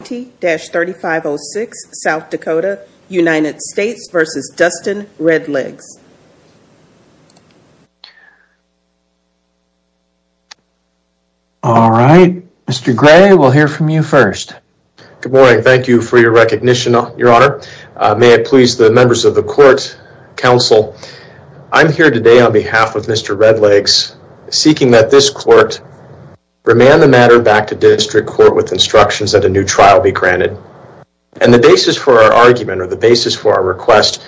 All right. Mr. Gray, we'll hear from you first. Good morning. Thank you for your recognition, your honor. May it please the members of the court council, I'm here today on behalf of Mr. Red Legs seeking that this court remand the matter back to district court with instructions at a new trial be granted. And the basis for our argument or the basis for our request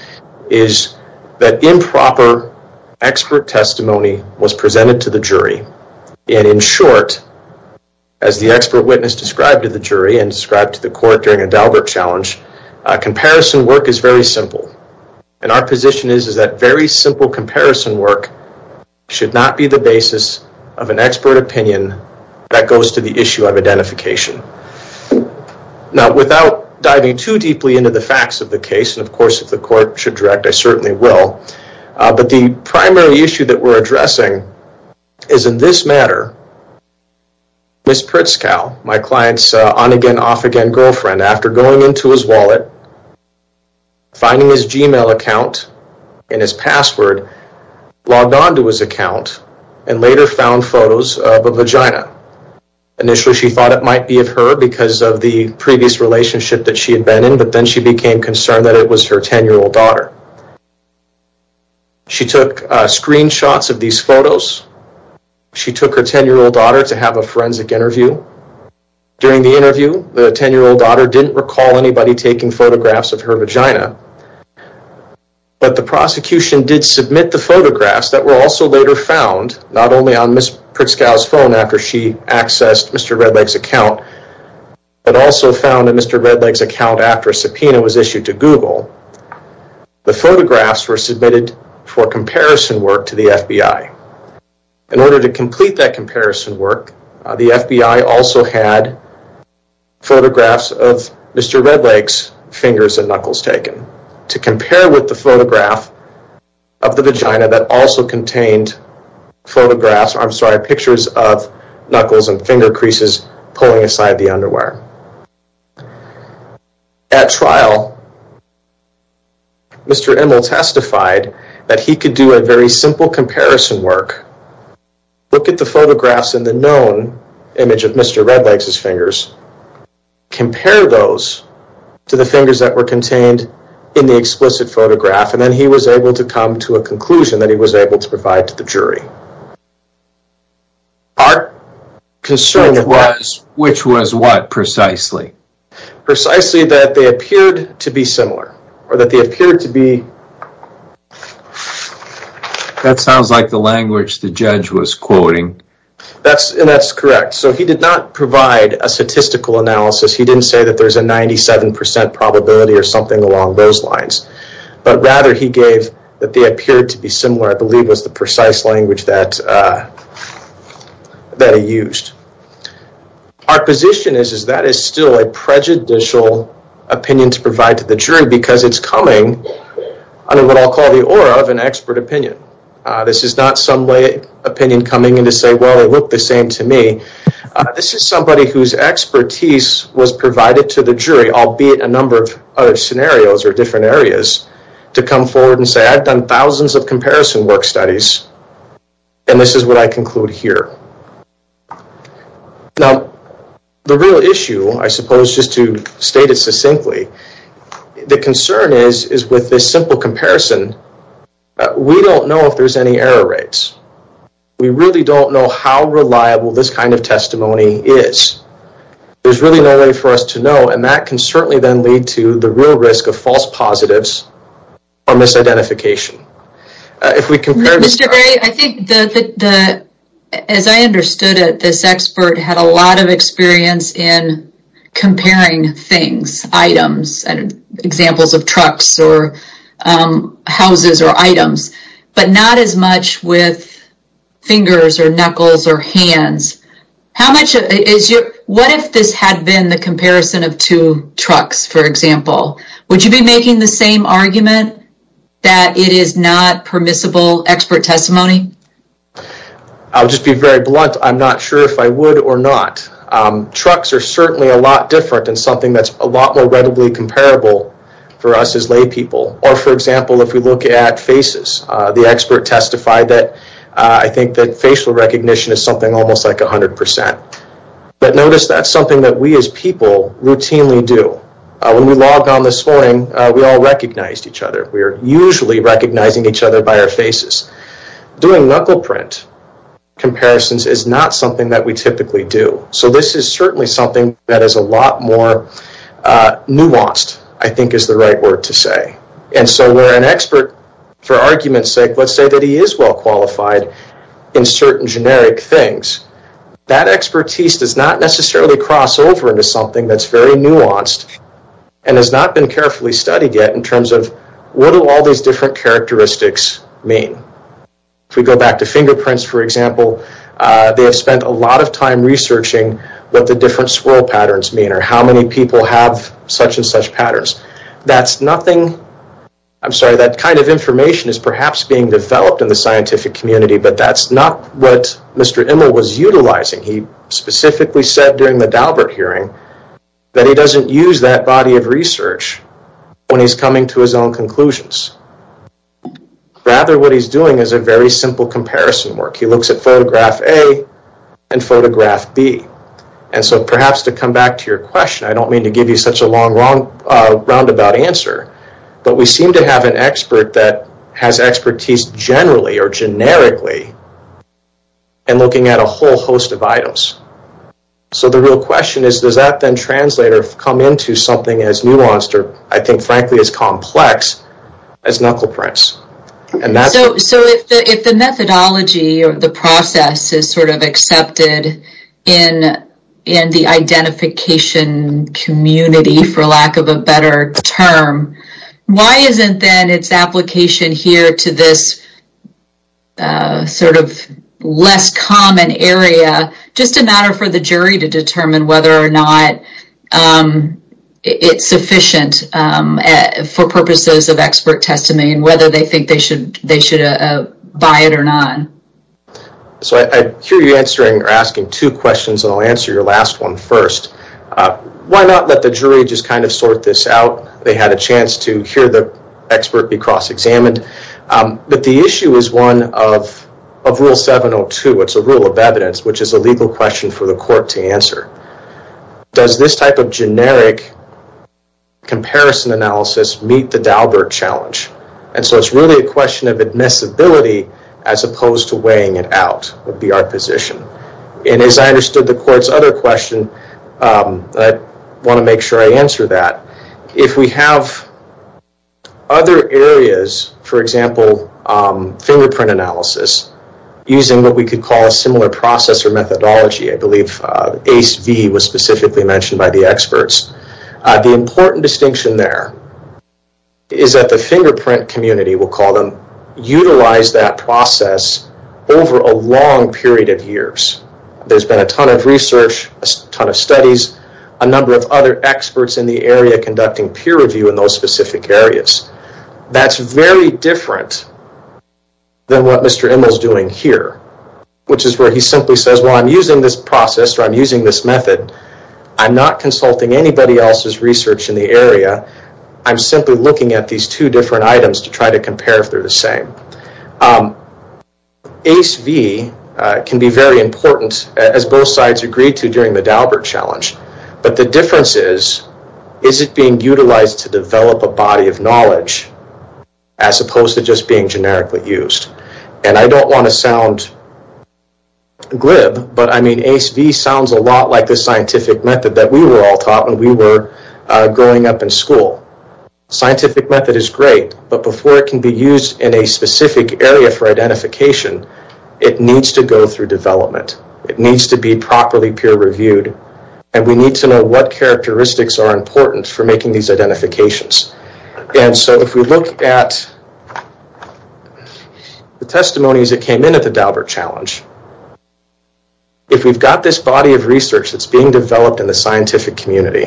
is that improper expert testimony was presented to the jury. And in short, as the expert witness described to the jury and described to the court during a Dalbert challenge, comparison work is very simple. And our position is that very simple comparison work should not be the basis of an expert opinion that goes to the issue of identification. Now, without diving too deeply into the facts of the case, and of course, if the court should direct, I certainly will. But the primary issue that we're addressing is in this matter, Ms. Pritzkau, my client's on-again, off-again girlfriend, after going into his wallet, finding his Gmail account and his password, logged onto his account and later found photos of a vagina. Initially, she thought it might be of her because of the previous relationship that she had been in, but then she became concerned that it was her 10-year-old daughter. She took screenshots of these photos. She took her 10-year-old daughter to have a forensic interview. During the interview, the 10-year-old daughter didn't recall anybody taking photographs of her vagina, but the prosecution did submit the photographs that were also later found, not only on Ms. Pritzkau's phone after she accessed Mr. Redleg's account, but also found in Mr. Redleg's account after a subpoena was issued to Google. The photographs were submitted for comparison work to the FBI. In order to complete that comparison work, the FBI also had photographs of Mr. Redleg's fingers and knuckles taken to compare with the photograph of the vagina that also contained photographs, I'm sorry, pictures of knuckles and finger creases pulling aside the underwear. At trial, Mr. Immel testified that he could do a very simple comparison work, look at the photographs in the known image of Mr. Redleg's fingers, compare those to the fingers that were contained in the explicit photograph, and then he was able to come to a conclusion that he was able to provide to the jury. Our concern was... Which was what precisely? Precisely that they appeared to be similar, or that they appeared to be... That sounds like the language the judge was quoting. That's correct, so he did not provide a statistical analysis, he didn't say that there's a 97% probability or something along those lines, but rather he gave that they appeared to be similar, which I believe was the precise language that he used. Our position is that is still a prejudicial opinion to provide to the jury because it's coming under what I'll call the aura of an expert opinion. This is not some way opinion coming in to say, well, they look the same to me. This is somebody whose expertise was provided to the jury, albeit a number of other scenarios or different areas, to come forward and say, I've done thousands of comparison work studies, and this is what I conclude here. Now, the real issue, I suppose, just to state it succinctly, the concern is with this simple comparison, we don't know if there's any error rates. We really don't know how reliable this kind of testimony is. There's really no way for us to know, and that can certainly then lead to the real risk of false positives or misidentification. If we compare... Mr. Gray, I think that, as I understood it, this expert had a lot of experience in comparing things, items, and examples of trucks or houses or items, but not as much with trucks, for example. Would you be making the same argument that it is not permissible expert testimony? I'll just be very blunt. I'm not sure if I would or not. Trucks are certainly a lot different and something that's a lot more readily comparable for us as laypeople. Or, for example, if we look at faces, the expert testified that I think that facial recognition is something almost like 100%. But notice that's something that we, as people, routinely do. When we logged on this morning, we all recognized each other. We are usually recognizing each other by our faces. Doing knuckle print comparisons is not something that we typically do. So this is certainly something that is a lot more nuanced, I think is the right word to say. And so where an expert, for argument's sake, let's say that he is well qualified in certain generic things, that expertise does not necessarily cross over into something that's very nuanced and has not been carefully studied yet in terms of what do all these different characteristics mean. If we go back to fingerprints, for example, they have spent a lot of time researching what the different swirl patterns mean or how many people have such and such patterns. I'm sorry, that kind of information is perhaps being developed in the scientific community, but that's not what Mr. Immel was utilizing. He specifically said during the Daubert hearing that he doesn't use that body of research when he's coming to his own conclusions. Rather, what he's doing is a very simple comparison work. He looks at photograph A and photograph B. And so perhaps to come back to your question, I don't mean to give you such a roundabout answer, but we seem to have an expert that has expertise generally or generically in looking at a whole host of items. So the real question is, does that then translate or come into something as nuanced or, I think, frankly, as complex as knuckle prints? So if the methodology or the process is sort of accepted in the identification community, for lack of a better term, why isn't then its application here to this sort of less common area just a matter for the jury to determine whether or not it's sufficient for purposes of expert testimony and whether they think they should buy it or not? So I hear you answering or asking two questions, and I'll answer your last one first. Why not let the jury just kind of sort this out? They had a chance to hear the expert be cross-examined. But the issue is one of Rule 702. It's a rule of evidence, which is a legal question for the court to answer. Does this type of generic comparison analysis meet the Daubert challenge? And so it's really a question of admissibility as opposed to weighing it out would be our position. And as I understood the court's other question, I want to make sure I answer that. If we have other areas, for example, fingerprint analysis, using what we could call a similar process or methodology, I believe ACE-V was specifically mentioned by the experts. The important distinction there is that the fingerprint community, we'll call them, utilize that process over a long period of years. There's been a ton of research, a ton of studies, a number of other experts in the area conducting peer review in those specific areas. That's very different than what Mr. Immel's doing here, which is where he simply says, well, I'm using this process or I'm using this method. I'm not consulting anybody else's research in the area. I'm simply looking at these two different items to try to compare if they're the same. ACE-V can be very important as both sides agreed to during the Daubert challenge. But the difference is, is it being utilized to develop a body of knowledge as opposed to just being generically used? And I don't want to sound glib, but I mean, ACE-V sounds a lot like the scientific method that we were all taught when we were growing up in school. Scientific method is great, but before it can be used in a specific area for identification, it needs to go through development. It needs to be properly peer reviewed. And we need to know what characteristics are important for making these identifications. And so if we look at the testimonies that came in at the Daubert challenge, if we've got this body of research that's being developed in the scientific community,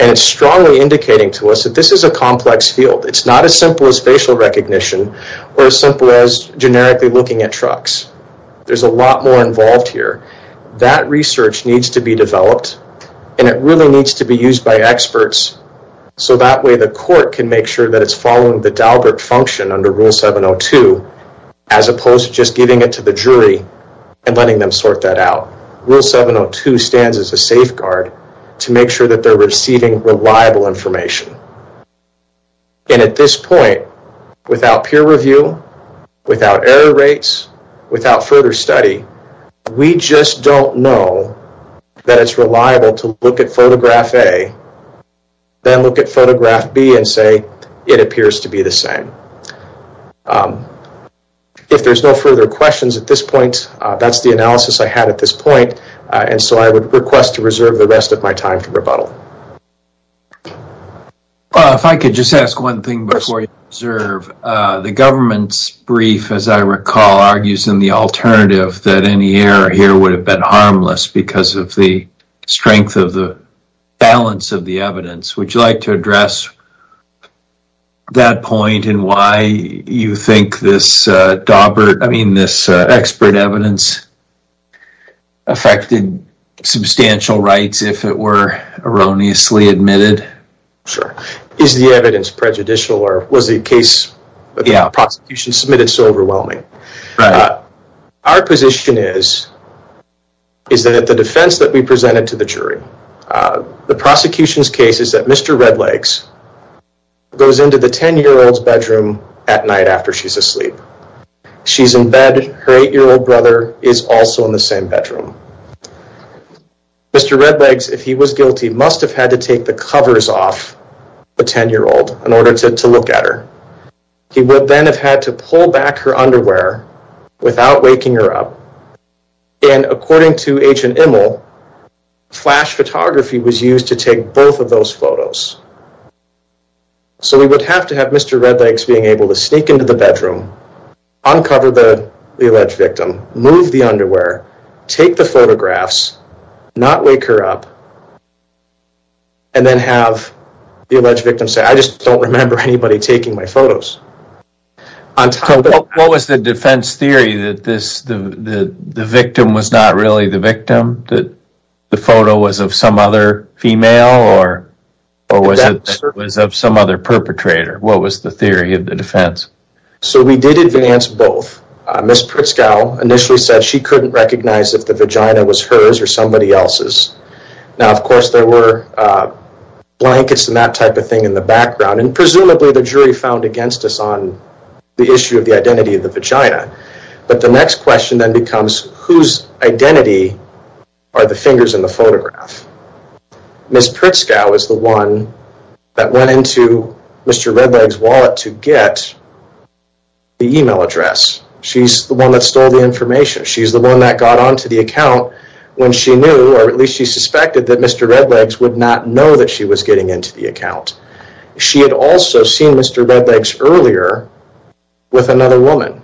and it's strongly indicating to us that this is a complex field. It's not as simple as facial recognition or as simple as generically looking at trucks. There's a lot more involved here. That research needs to be developed and it really needs to be used by experts. So that way the court can make sure that it's following the Daubert function under rule 702, as opposed to just giving it to the jury and letting them sort that out. Rule 702 stands as a safeguard to make sure that they're receiving reliable information. And at this point, without peer review, without error rates, without further study, we just don't know that it's reliable to look at photograph A, then look at photograph B and say it appears to be the same. If there's no further questions at this point, that's the analysis I had at this point. And so I would request to reserve the rest of my time for rebuttal. Well, if I could just ask one thing before you reserve. The government's brief, as I recall, argues in the alternative that any error here would have been harmless because of the strength of the balance of the evidence. Would you like to address that point and why you think this Daubert, I mean, this expert evidence affected substantial rights if it were erroneously admitted? Sure. Is the evidence prejudicial or was the case of the prosecution submitted so overwhelming? Our position is that the defense that we presented to the jury, the prosecution's case is that Mr. Redlegs goes into the 10-year-old's bedroom at night after she's asleep. She's in bed, her eight-year-old brother is also in the same bedroom. Mr. Redlegs, if he was guilty, must have had to take the covers off the 10-year-old in order to look at her. He would then have had to pull back her underwear without waking her up. And according to Agent Immel, flash photography was used to take both of those photos. So we would have to have Mr. Redlegs being to sneak into the bedroom, uncover the alleged victim, move the underwear, take the photographs, not wake her up, and then have the alleged victim say, I just don't remember anybody taking my photos. What was the defense theory that the victim was not really the victim, that the photo was of some other female or was it was of some other perpetrator? What was the theory of the defense? So we did advance both. Ms. Pritzkel initially said she couldn't recognize if the vagina was hers or somebody else's. Now of course there were blankets and that type of thing in the background and presumably the jury found against us on the issue of the identity of the vagina. But the next question then becomes whose identity are the fingers in the photograph? Ms. Pritzkel is the one that went into Mr. Redlegs' wallet to get the email address. She's the one that stole the information. She's the one that got onto the account when she knew or at least she suspected that Mr. Redlegs would not know that she was getting into the account. She had seen Mr. Redlegs earlier with another woman.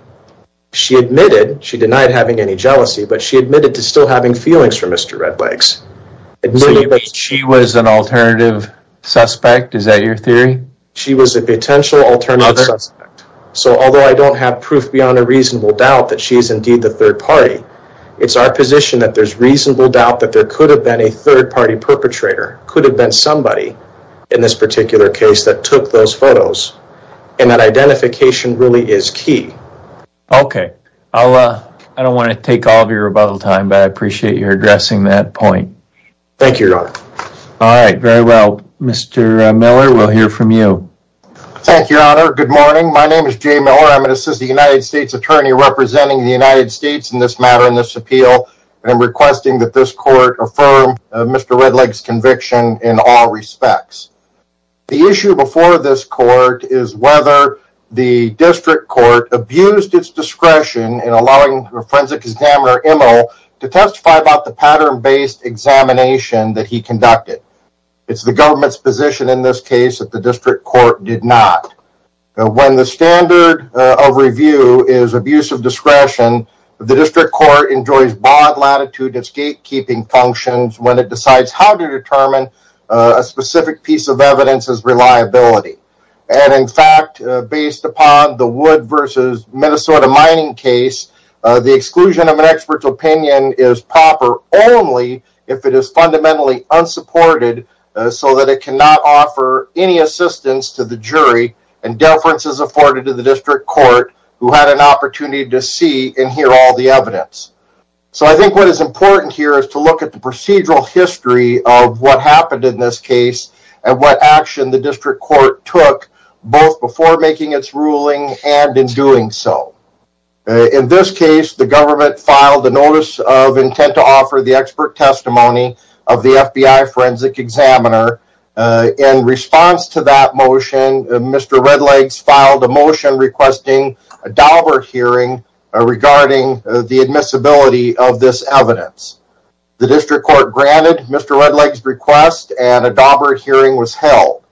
She admitted, she denied having any jealousy, but she admitted to still having feelings for Mr. Redlegs. She was an alternative suspect, is that your theory? She was a potential alternative suspect. So although I don't have proof beyond a reasonable doubt that she's indeed the third party, it's our position that there's reasonable doubt that there could have been a third party perpetrator, could have been in this particular case that took those photos and that identification really is key. Okay. I'll, I don't want to take all of your rebuttal time, but I appreciate your addressing that point. Thank you, your honor. All right. Very well. Mr. Miller, we'll hear from you. Thank you, your honor. Good morning. My name is Jay Miller. I'm an assistant United States attorney representing the United States in this matter, in this appeal, and I'm requesting that this court affirm Mr. Redlegs' conviction in all respects. The issue before this court is whether the district court abused its discretion in allowing a forensic examiner, Emil, to testify about the pattern-based examination that he conducted. It's the government's position in this case that the district court did not. When the standard of review is abuse of discretion, the district court enjoys broad latitude of gatekeeping functions when it decides how to determine a specific piece of evidence as reliability. And in fact, based upon the wood versus Minnesota mining case, the exclusion of an expert's opinion is proper only if it is fundamentally unsupported so that it cannot offer any assistance to the jury and deference is see and hear all the evidence. So I think what is important here is to look at the procedural history of what happened in this case and what action the district court took both before making its ruling and in doing so. In this case, the government filed a notice of intent to offer the expert testimony of the FBI forensic examiner. In response to that motion, Mr. Redlegs filed a motion requesting a Daubert hearing regarding the admissibility of this evidence. The district court granted Mr. Redlegs' request and a Daubert hearing was held.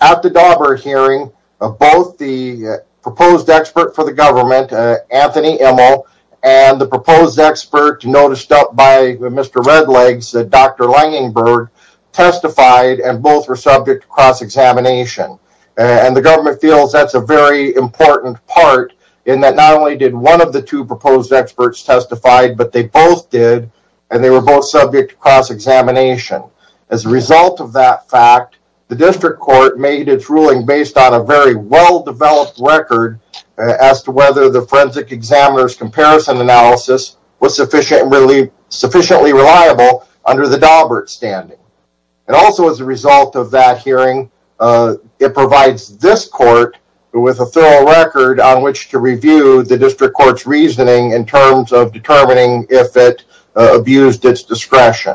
At the Daubert hearing, both the proposed expert for the government, Anthony Emil, and the proposed expert noticed up by Mr. Redlegs, Dr. Langenberg, testified and both were subject to cross-examination. And the government feels that's a very important part in that not only did one of the two proposed experts testify, but they both did and they were both subject to cross-examination. As a result of that fact, the district court made its ruling based on a very well-developed record as to whether the forensic examiner's comparison analysis was sufficiently reliable under the Daubert standing. And also as a result of that hearing, it provides this court with a thorough record on which to review the district court's reasoning in terms of determining if it abused its discretion.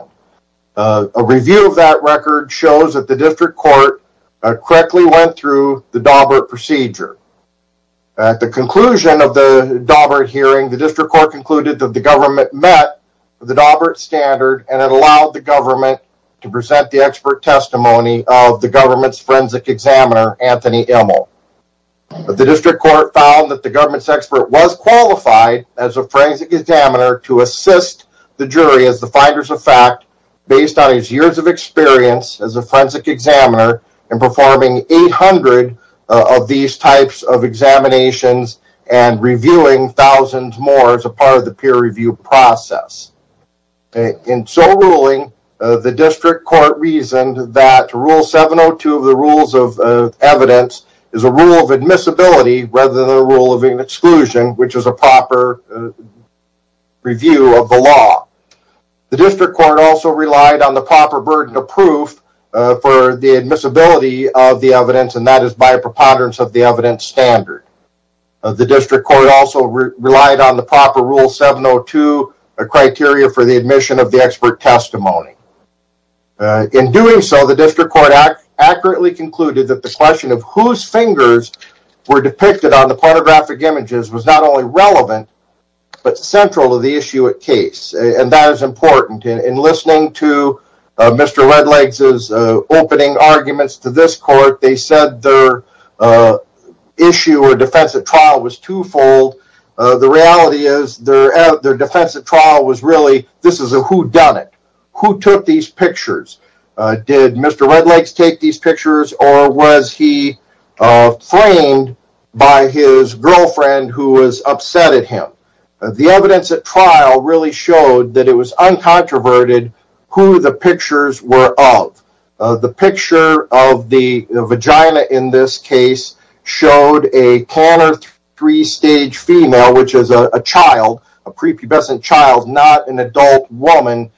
A review of that record shows that the district court correctly went through the Daubert procedure. At the conclusion of the Daubert hearing, the district court concluded that the government met the Daubert standard and it allowed the government to present the expert testimony of the government's forensic examiner, Anthony Emil. The district court found that the government's expert was qualified as a forensic examiner to assist the jury as the finders of fact based on his years of experience as a forensic examiner in performing 800 of these types of examinations. In so ruling, the district court reasoned that rule 702 of the rules of evidence is a rule of admissibility rather than a rule of exclusion, which is a proper review of the law. The district court also relied on the proper burden of proof for the admissibility of the evidence and that is by preponderance of the evidence standard. The district court also relied on the proper rule 702 a criteria for the admission of the expert testimony. In doing so, the district court accurately concluded that the question of whose fingers were depicted on the pornographic images was not only relevant but central to the issue at case and that is important. In listening to Mr. Redlegs' opening arguments to this court, they said their issue or defense at trial was twofold. The reality is their defense at trial was really this is a whodunit. Who took these pictures? Did Mr. Redlegs take these pictures or was he framed by his girlfriend who was upset at him? The evidence at trial really showed that it was uncontroverted who the pictures were of. The picture of the vagina in this case showed a Tanner three-stage female, which is a child, a prepubescent child, not an adult woman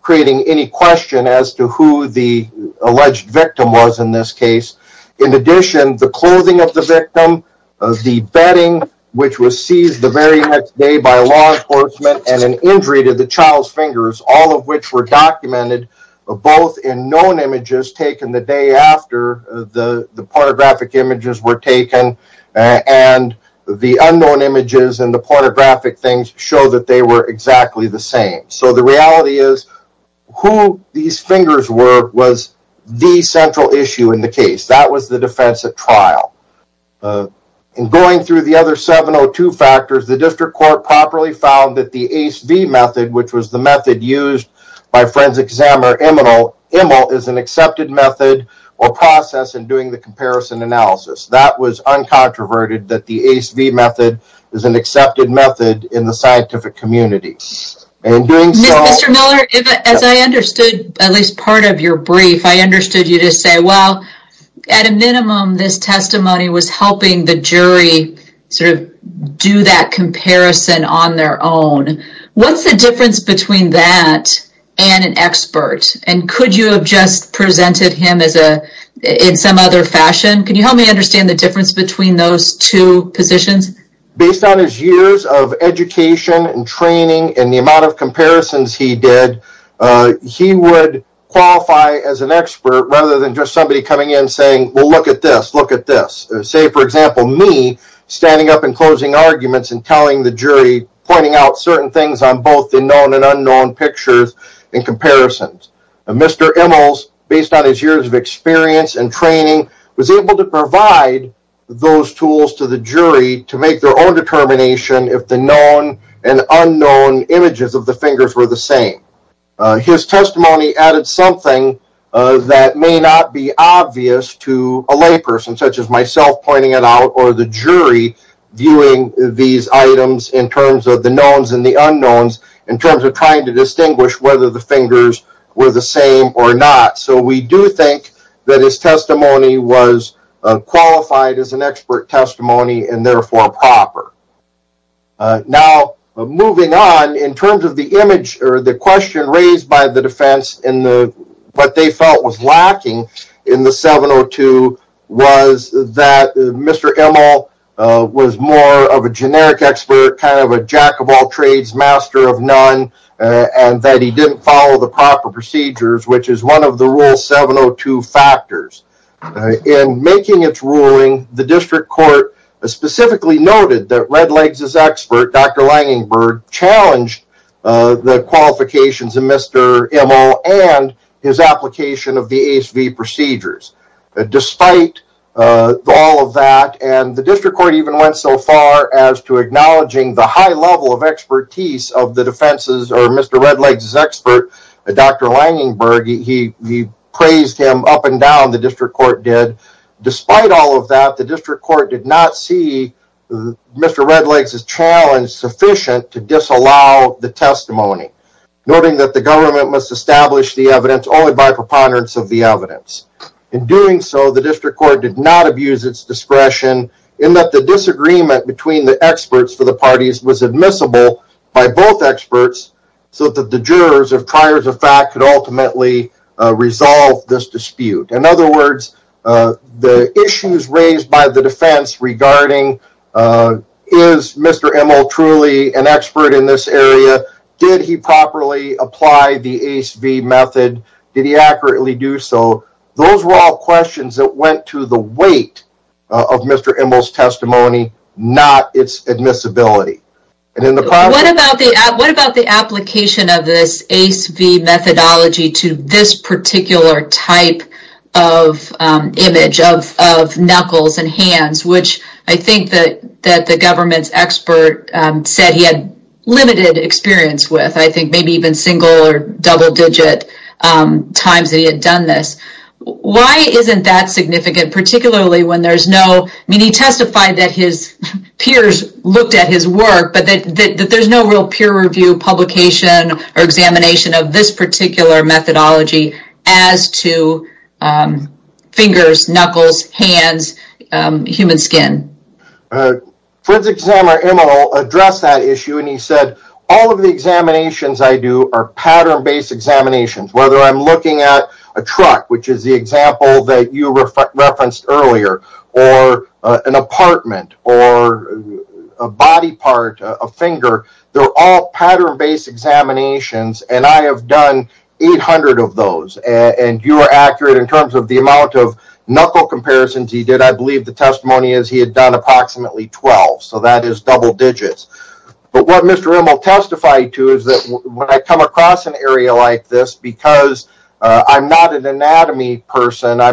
creating any question as to who the alleged victim was in this case. In addition, the clothing of the victim, the bedding which was seized the very next day by law enforcement and an injury to the child's fingers, all of which were documented both in known images taken the day after the pornographic images were taken and the unknown images and the pornographic things show that they were exactly the same. So the reality is who these fingers were was the central issue in the case. That was the defense at trial. In going through the other 702 factors, the district court properly found that the ACE-V method, which was the method used by forensic examiner Immel, is an accepted method or process in doing the comparison analysis. That was uncontroverted that the ACE-V method is an accepted method in the scientific community. Mr. Miller, as I understood at least part of your testimony was helping the jury sort of do that comparison on their own. What's the difference between that and an expert and could you have just presented him as a in some other fashion? Can you help me understand the difference between those two positions? Based on his years of education and training and the amount of comparisons he did, he would qualify as an expert rather than just somebody coming in saying, well, look at this, look at this. Say, for example, me standing up and closing arguments and telling the jury, pointing out certain things on both the known and unknown pictures and comparisons. Mr. Immel, based on his years of experience and training, was able to provide those tools to the jury to make their own determination if the known and unknown images of the fingers were the same. His testimony added something that may not be obvious to a layperson, such as myself pointing it out or the jury viewing these items in terms of the knowns and the unknowns in terms of trying to distinguish whether the fingers were the same or not. So we do think that his testimony was qualified as an expert testimony and therefore proper. Now, moving on, in terms of the image or the question raised by the defense in what they felt was lacking in the 702 was that Mr. Immel was more of a generic expert, kind of a jack-of-all-trades master of none, and that he didn't follow the proper procedures, which is one of the rule 702 factors. In making its ruling, the district court specifically noted that Red Legs' expert, Dr. Langenberg, challenged the qualifications of Mr. Immel and his application of the ASV procedures. Despite all of that, and the district court even went so far as to acknowledging the high level of expertise of the defense's or Mr. Red Legs' expert, Dr. Langenberg, he praised him up and down, the district court did. Despite all of that, the district court did not see Mr. Red Legs' challenge sufficient to disallow the testimony, noting that the government must establish the evidence only by preponderance of the evidence. In doing so, the district court did not abuse its discretion in that the disagreement between the experts for the parties was admissible by both experts so that the jurors of priors of fact could ultimately resolve this dispute. In other words, the issues raised by the defense regarding is Mr. Immel truly an expert in this area, did he properly apply the ASV method, did he accurately do so, those were all questions that to the weight of Mr. Immel's testimony, not its admissibility. What about the application of this ASV methodology to this particular type of image of knuckles and hands, which I think that the government's expert said he had limited experience with, I think maybe even single or double digit times that he had done this. Why isn't that significant, particularly when there's no, I mean he testified that his peers looked at his work, but that there's no real peer review publication or examination of this particular methodology as to fingers, knuckles, hands, human skin. Forensic Examiner Immel addressed that issue and he said all of the examinations I do are pattern-based examinations, whether I'm looking at a truck, which is the example that you referenced earlier, or an apartment, or a body part, a finger, they're all pattern-based examinations and I have done 800 of those and you are accurate in terms of the amount of knuckle comparisons he did, I believe the testimony is he had done approximately 12, so that is double digits. But what Mr. Immel testified to is that when I come across an area like this, because I'm not an anatomy person, I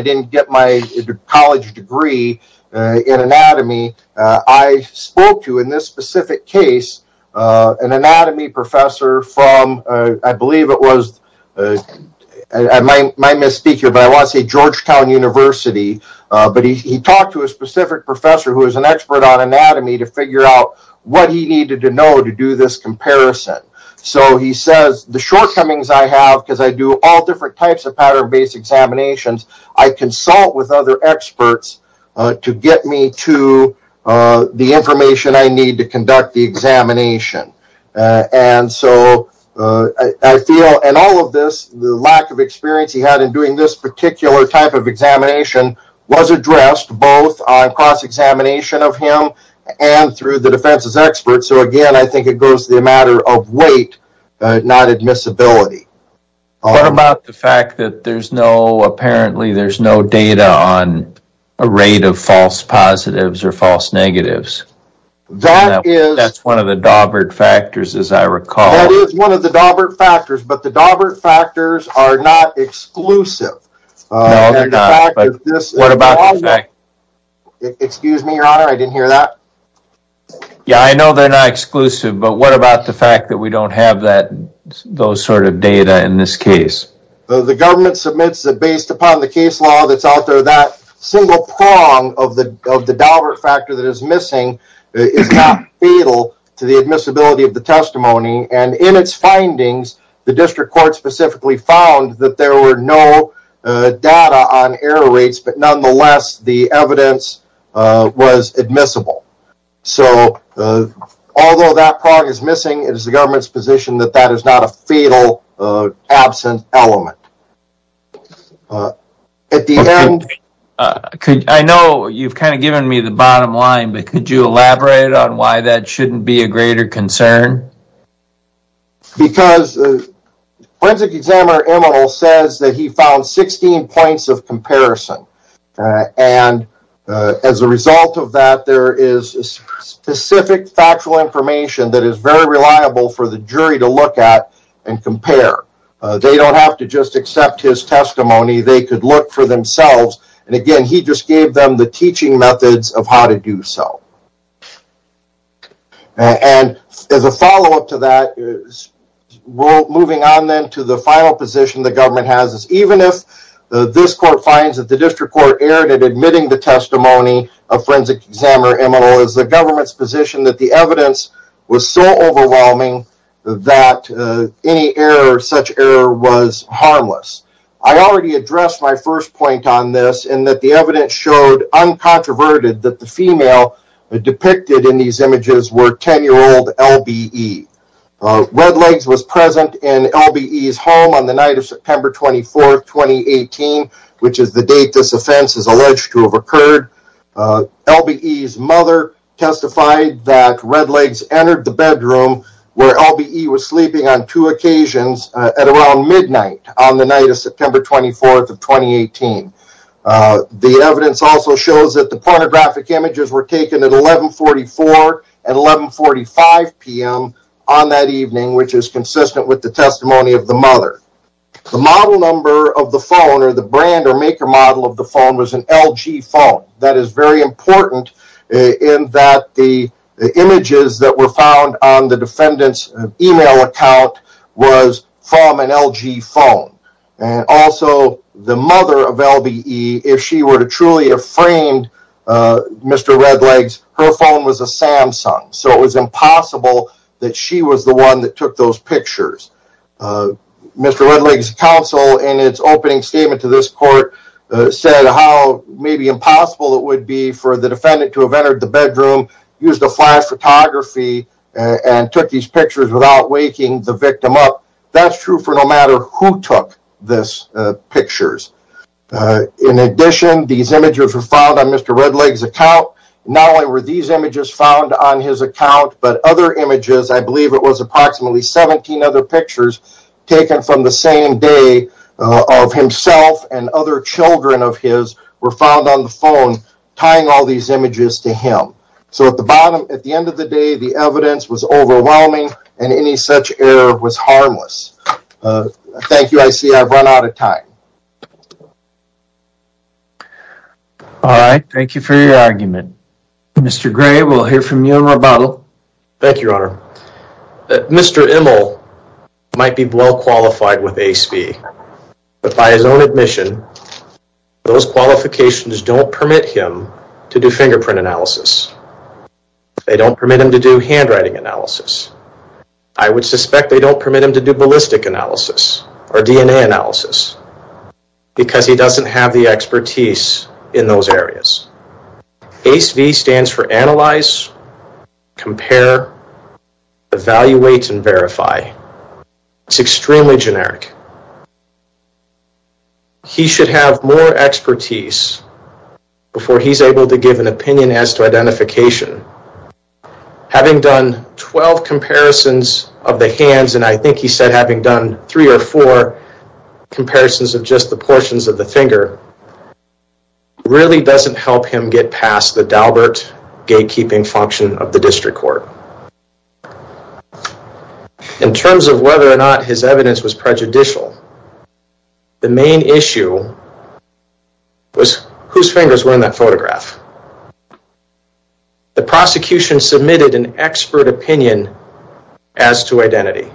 didn't get my college degree in anatomy, I spoke to, in this specific case, an anatomy professor from, I believe it was, I might misspeak here, but I want to say Georgetown University, but he talked to a specific professor who is an expert on anatomy to figure out what he needed to know to do this comparison. So he says the shortcomings I have, because I do all different types of pattern-based examinations, I consult with other experts to get me to the information I need to conduct the examination. And so I feel, and all of this, the lack of experience he had in doing this particular type of examination was addressed both on cross-examination of him and through the defense's experts. So again, I think it goes to the matter of weight, not admissibility. What about the fact that there's no, apparently there's no data on a rate of false positives or false negatives? That's one of the Dawbert factors, as I recall. That is one of the Dawbert factors, but the Dawbert factors are not exclusive. No, they're not, but what about the fact... Excuse me, your honor, I didn't hear that. Yeah, I know they're not exclusive, but what about the fact that we don't have that, those sort of data in this case? The government submits that based upon the case law that's out there, that single prong of the Dawbert factor that is missing is not fatal to the admissibility of the testimony. And in its data on error rates, but nonetheless, the evidence was admissible. So although that prong is missing, it is the government's position that that is not a fatal absent element. At the end... I know you've kind of given me the bottom line, but could you elaborate on why that shouldn't be a greater concern? Because Forensic Examiner Emile says that he found 16 points of comparison, and as a result of that, there is specific factual information that is very reliable for the jury to look at and compare. They don't have to just accept his testimony, they could look for themselves, and again, he just gave them the teaching methods of how to do so. And as a follow-up to that, moving on then to the final position the government has is even if this court finds that the district court erred in admitting the testimony of Forensic Examiner Emile is the government's position that the evidence was so overwhelming that any error, such error, was harmless. I already addressed my first point on this in that the evidence showed uncontroverted that the female depicted in these images were 10-year-old LBE. Redlegs was present in LBE's home on the night of September 24th, 2018, which is the date this offense is alleged to have occurred. LBE's mother testified that Redlegs entered the bedroom where LBE was sleeping on two occasions at around midnight on the night of September 24th of 2018. The evidence also shows that the pornographic images were taken at 1144 and 1145 p.m. on that evening, which is consistent with the testimony of the mother. The model number of the phone or the brand or maker model of the phone was an LG phone. That is very important in that the images that were found on the defendant's email account was from an LG phone. Also, the mother of LBE, if she were to truly have framed Mr. Redlegs, her phone was a Samsung, so it was impossible that she was the one that took those pictures. Mr. Redlegs' counsel in its opening statement to this court said how maybe impossible it would be for the defendant to have entered the bedroom, used a flash photography, and took these pictures without waking the victim up. That's true for no matter who took these pictures. In addition, these images were found on Mr. Redlegs' account. Not only were these images found on his account, but other images, I believe it was approximately 17 other pictures taken from the same day of himself and other children of his were found on the bottom. At the end of the day, the evidence was overwhelming and any such error was harmless. Thank you. I see I've run out of time. All right. Thank you for your argument. Mr. Gray, we'll hear from you in rebuttal. Thank you, Your Honor. Mr. Immel might be well qualified with ASPE, but by his own admission, those qualifications don't permit him to do fingerprint analysis. They don't permit him to do handwriting analysis. I would suspect they don't permit him to do ballistic analysis or DNA analysis because he doesn't have the expertise in those areas. ACE-V stands for Compare, Evaluate, and Verify. It's extremely generic. He should have more expertise before he's able to give an opinion as to identification. Having done 12 comparisons of the hands, and I think he said having done three or four comparisons of just the portions of the finger, really doesn't help him get past the Dalbert gatekeeping function of the district court. In terms of whether or not his evidence was prejudicial, the main issue was whose fingers were in that photograph. The prosecution submitted an expert opinion as to identity,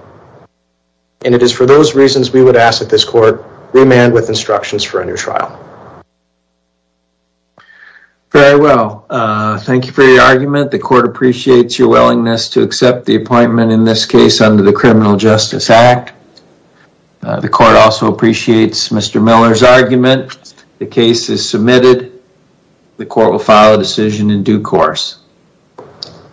and it is for those reasons we would ask that this court remand with instructions for a new trial. Very well. Thank you for your argument. The court appreciates your willingness to accept the appointment in this case under the Criminal Justice Act. The court also appreciates Mr. Miller's argument. The case is submitted. The court will file a decision in due course.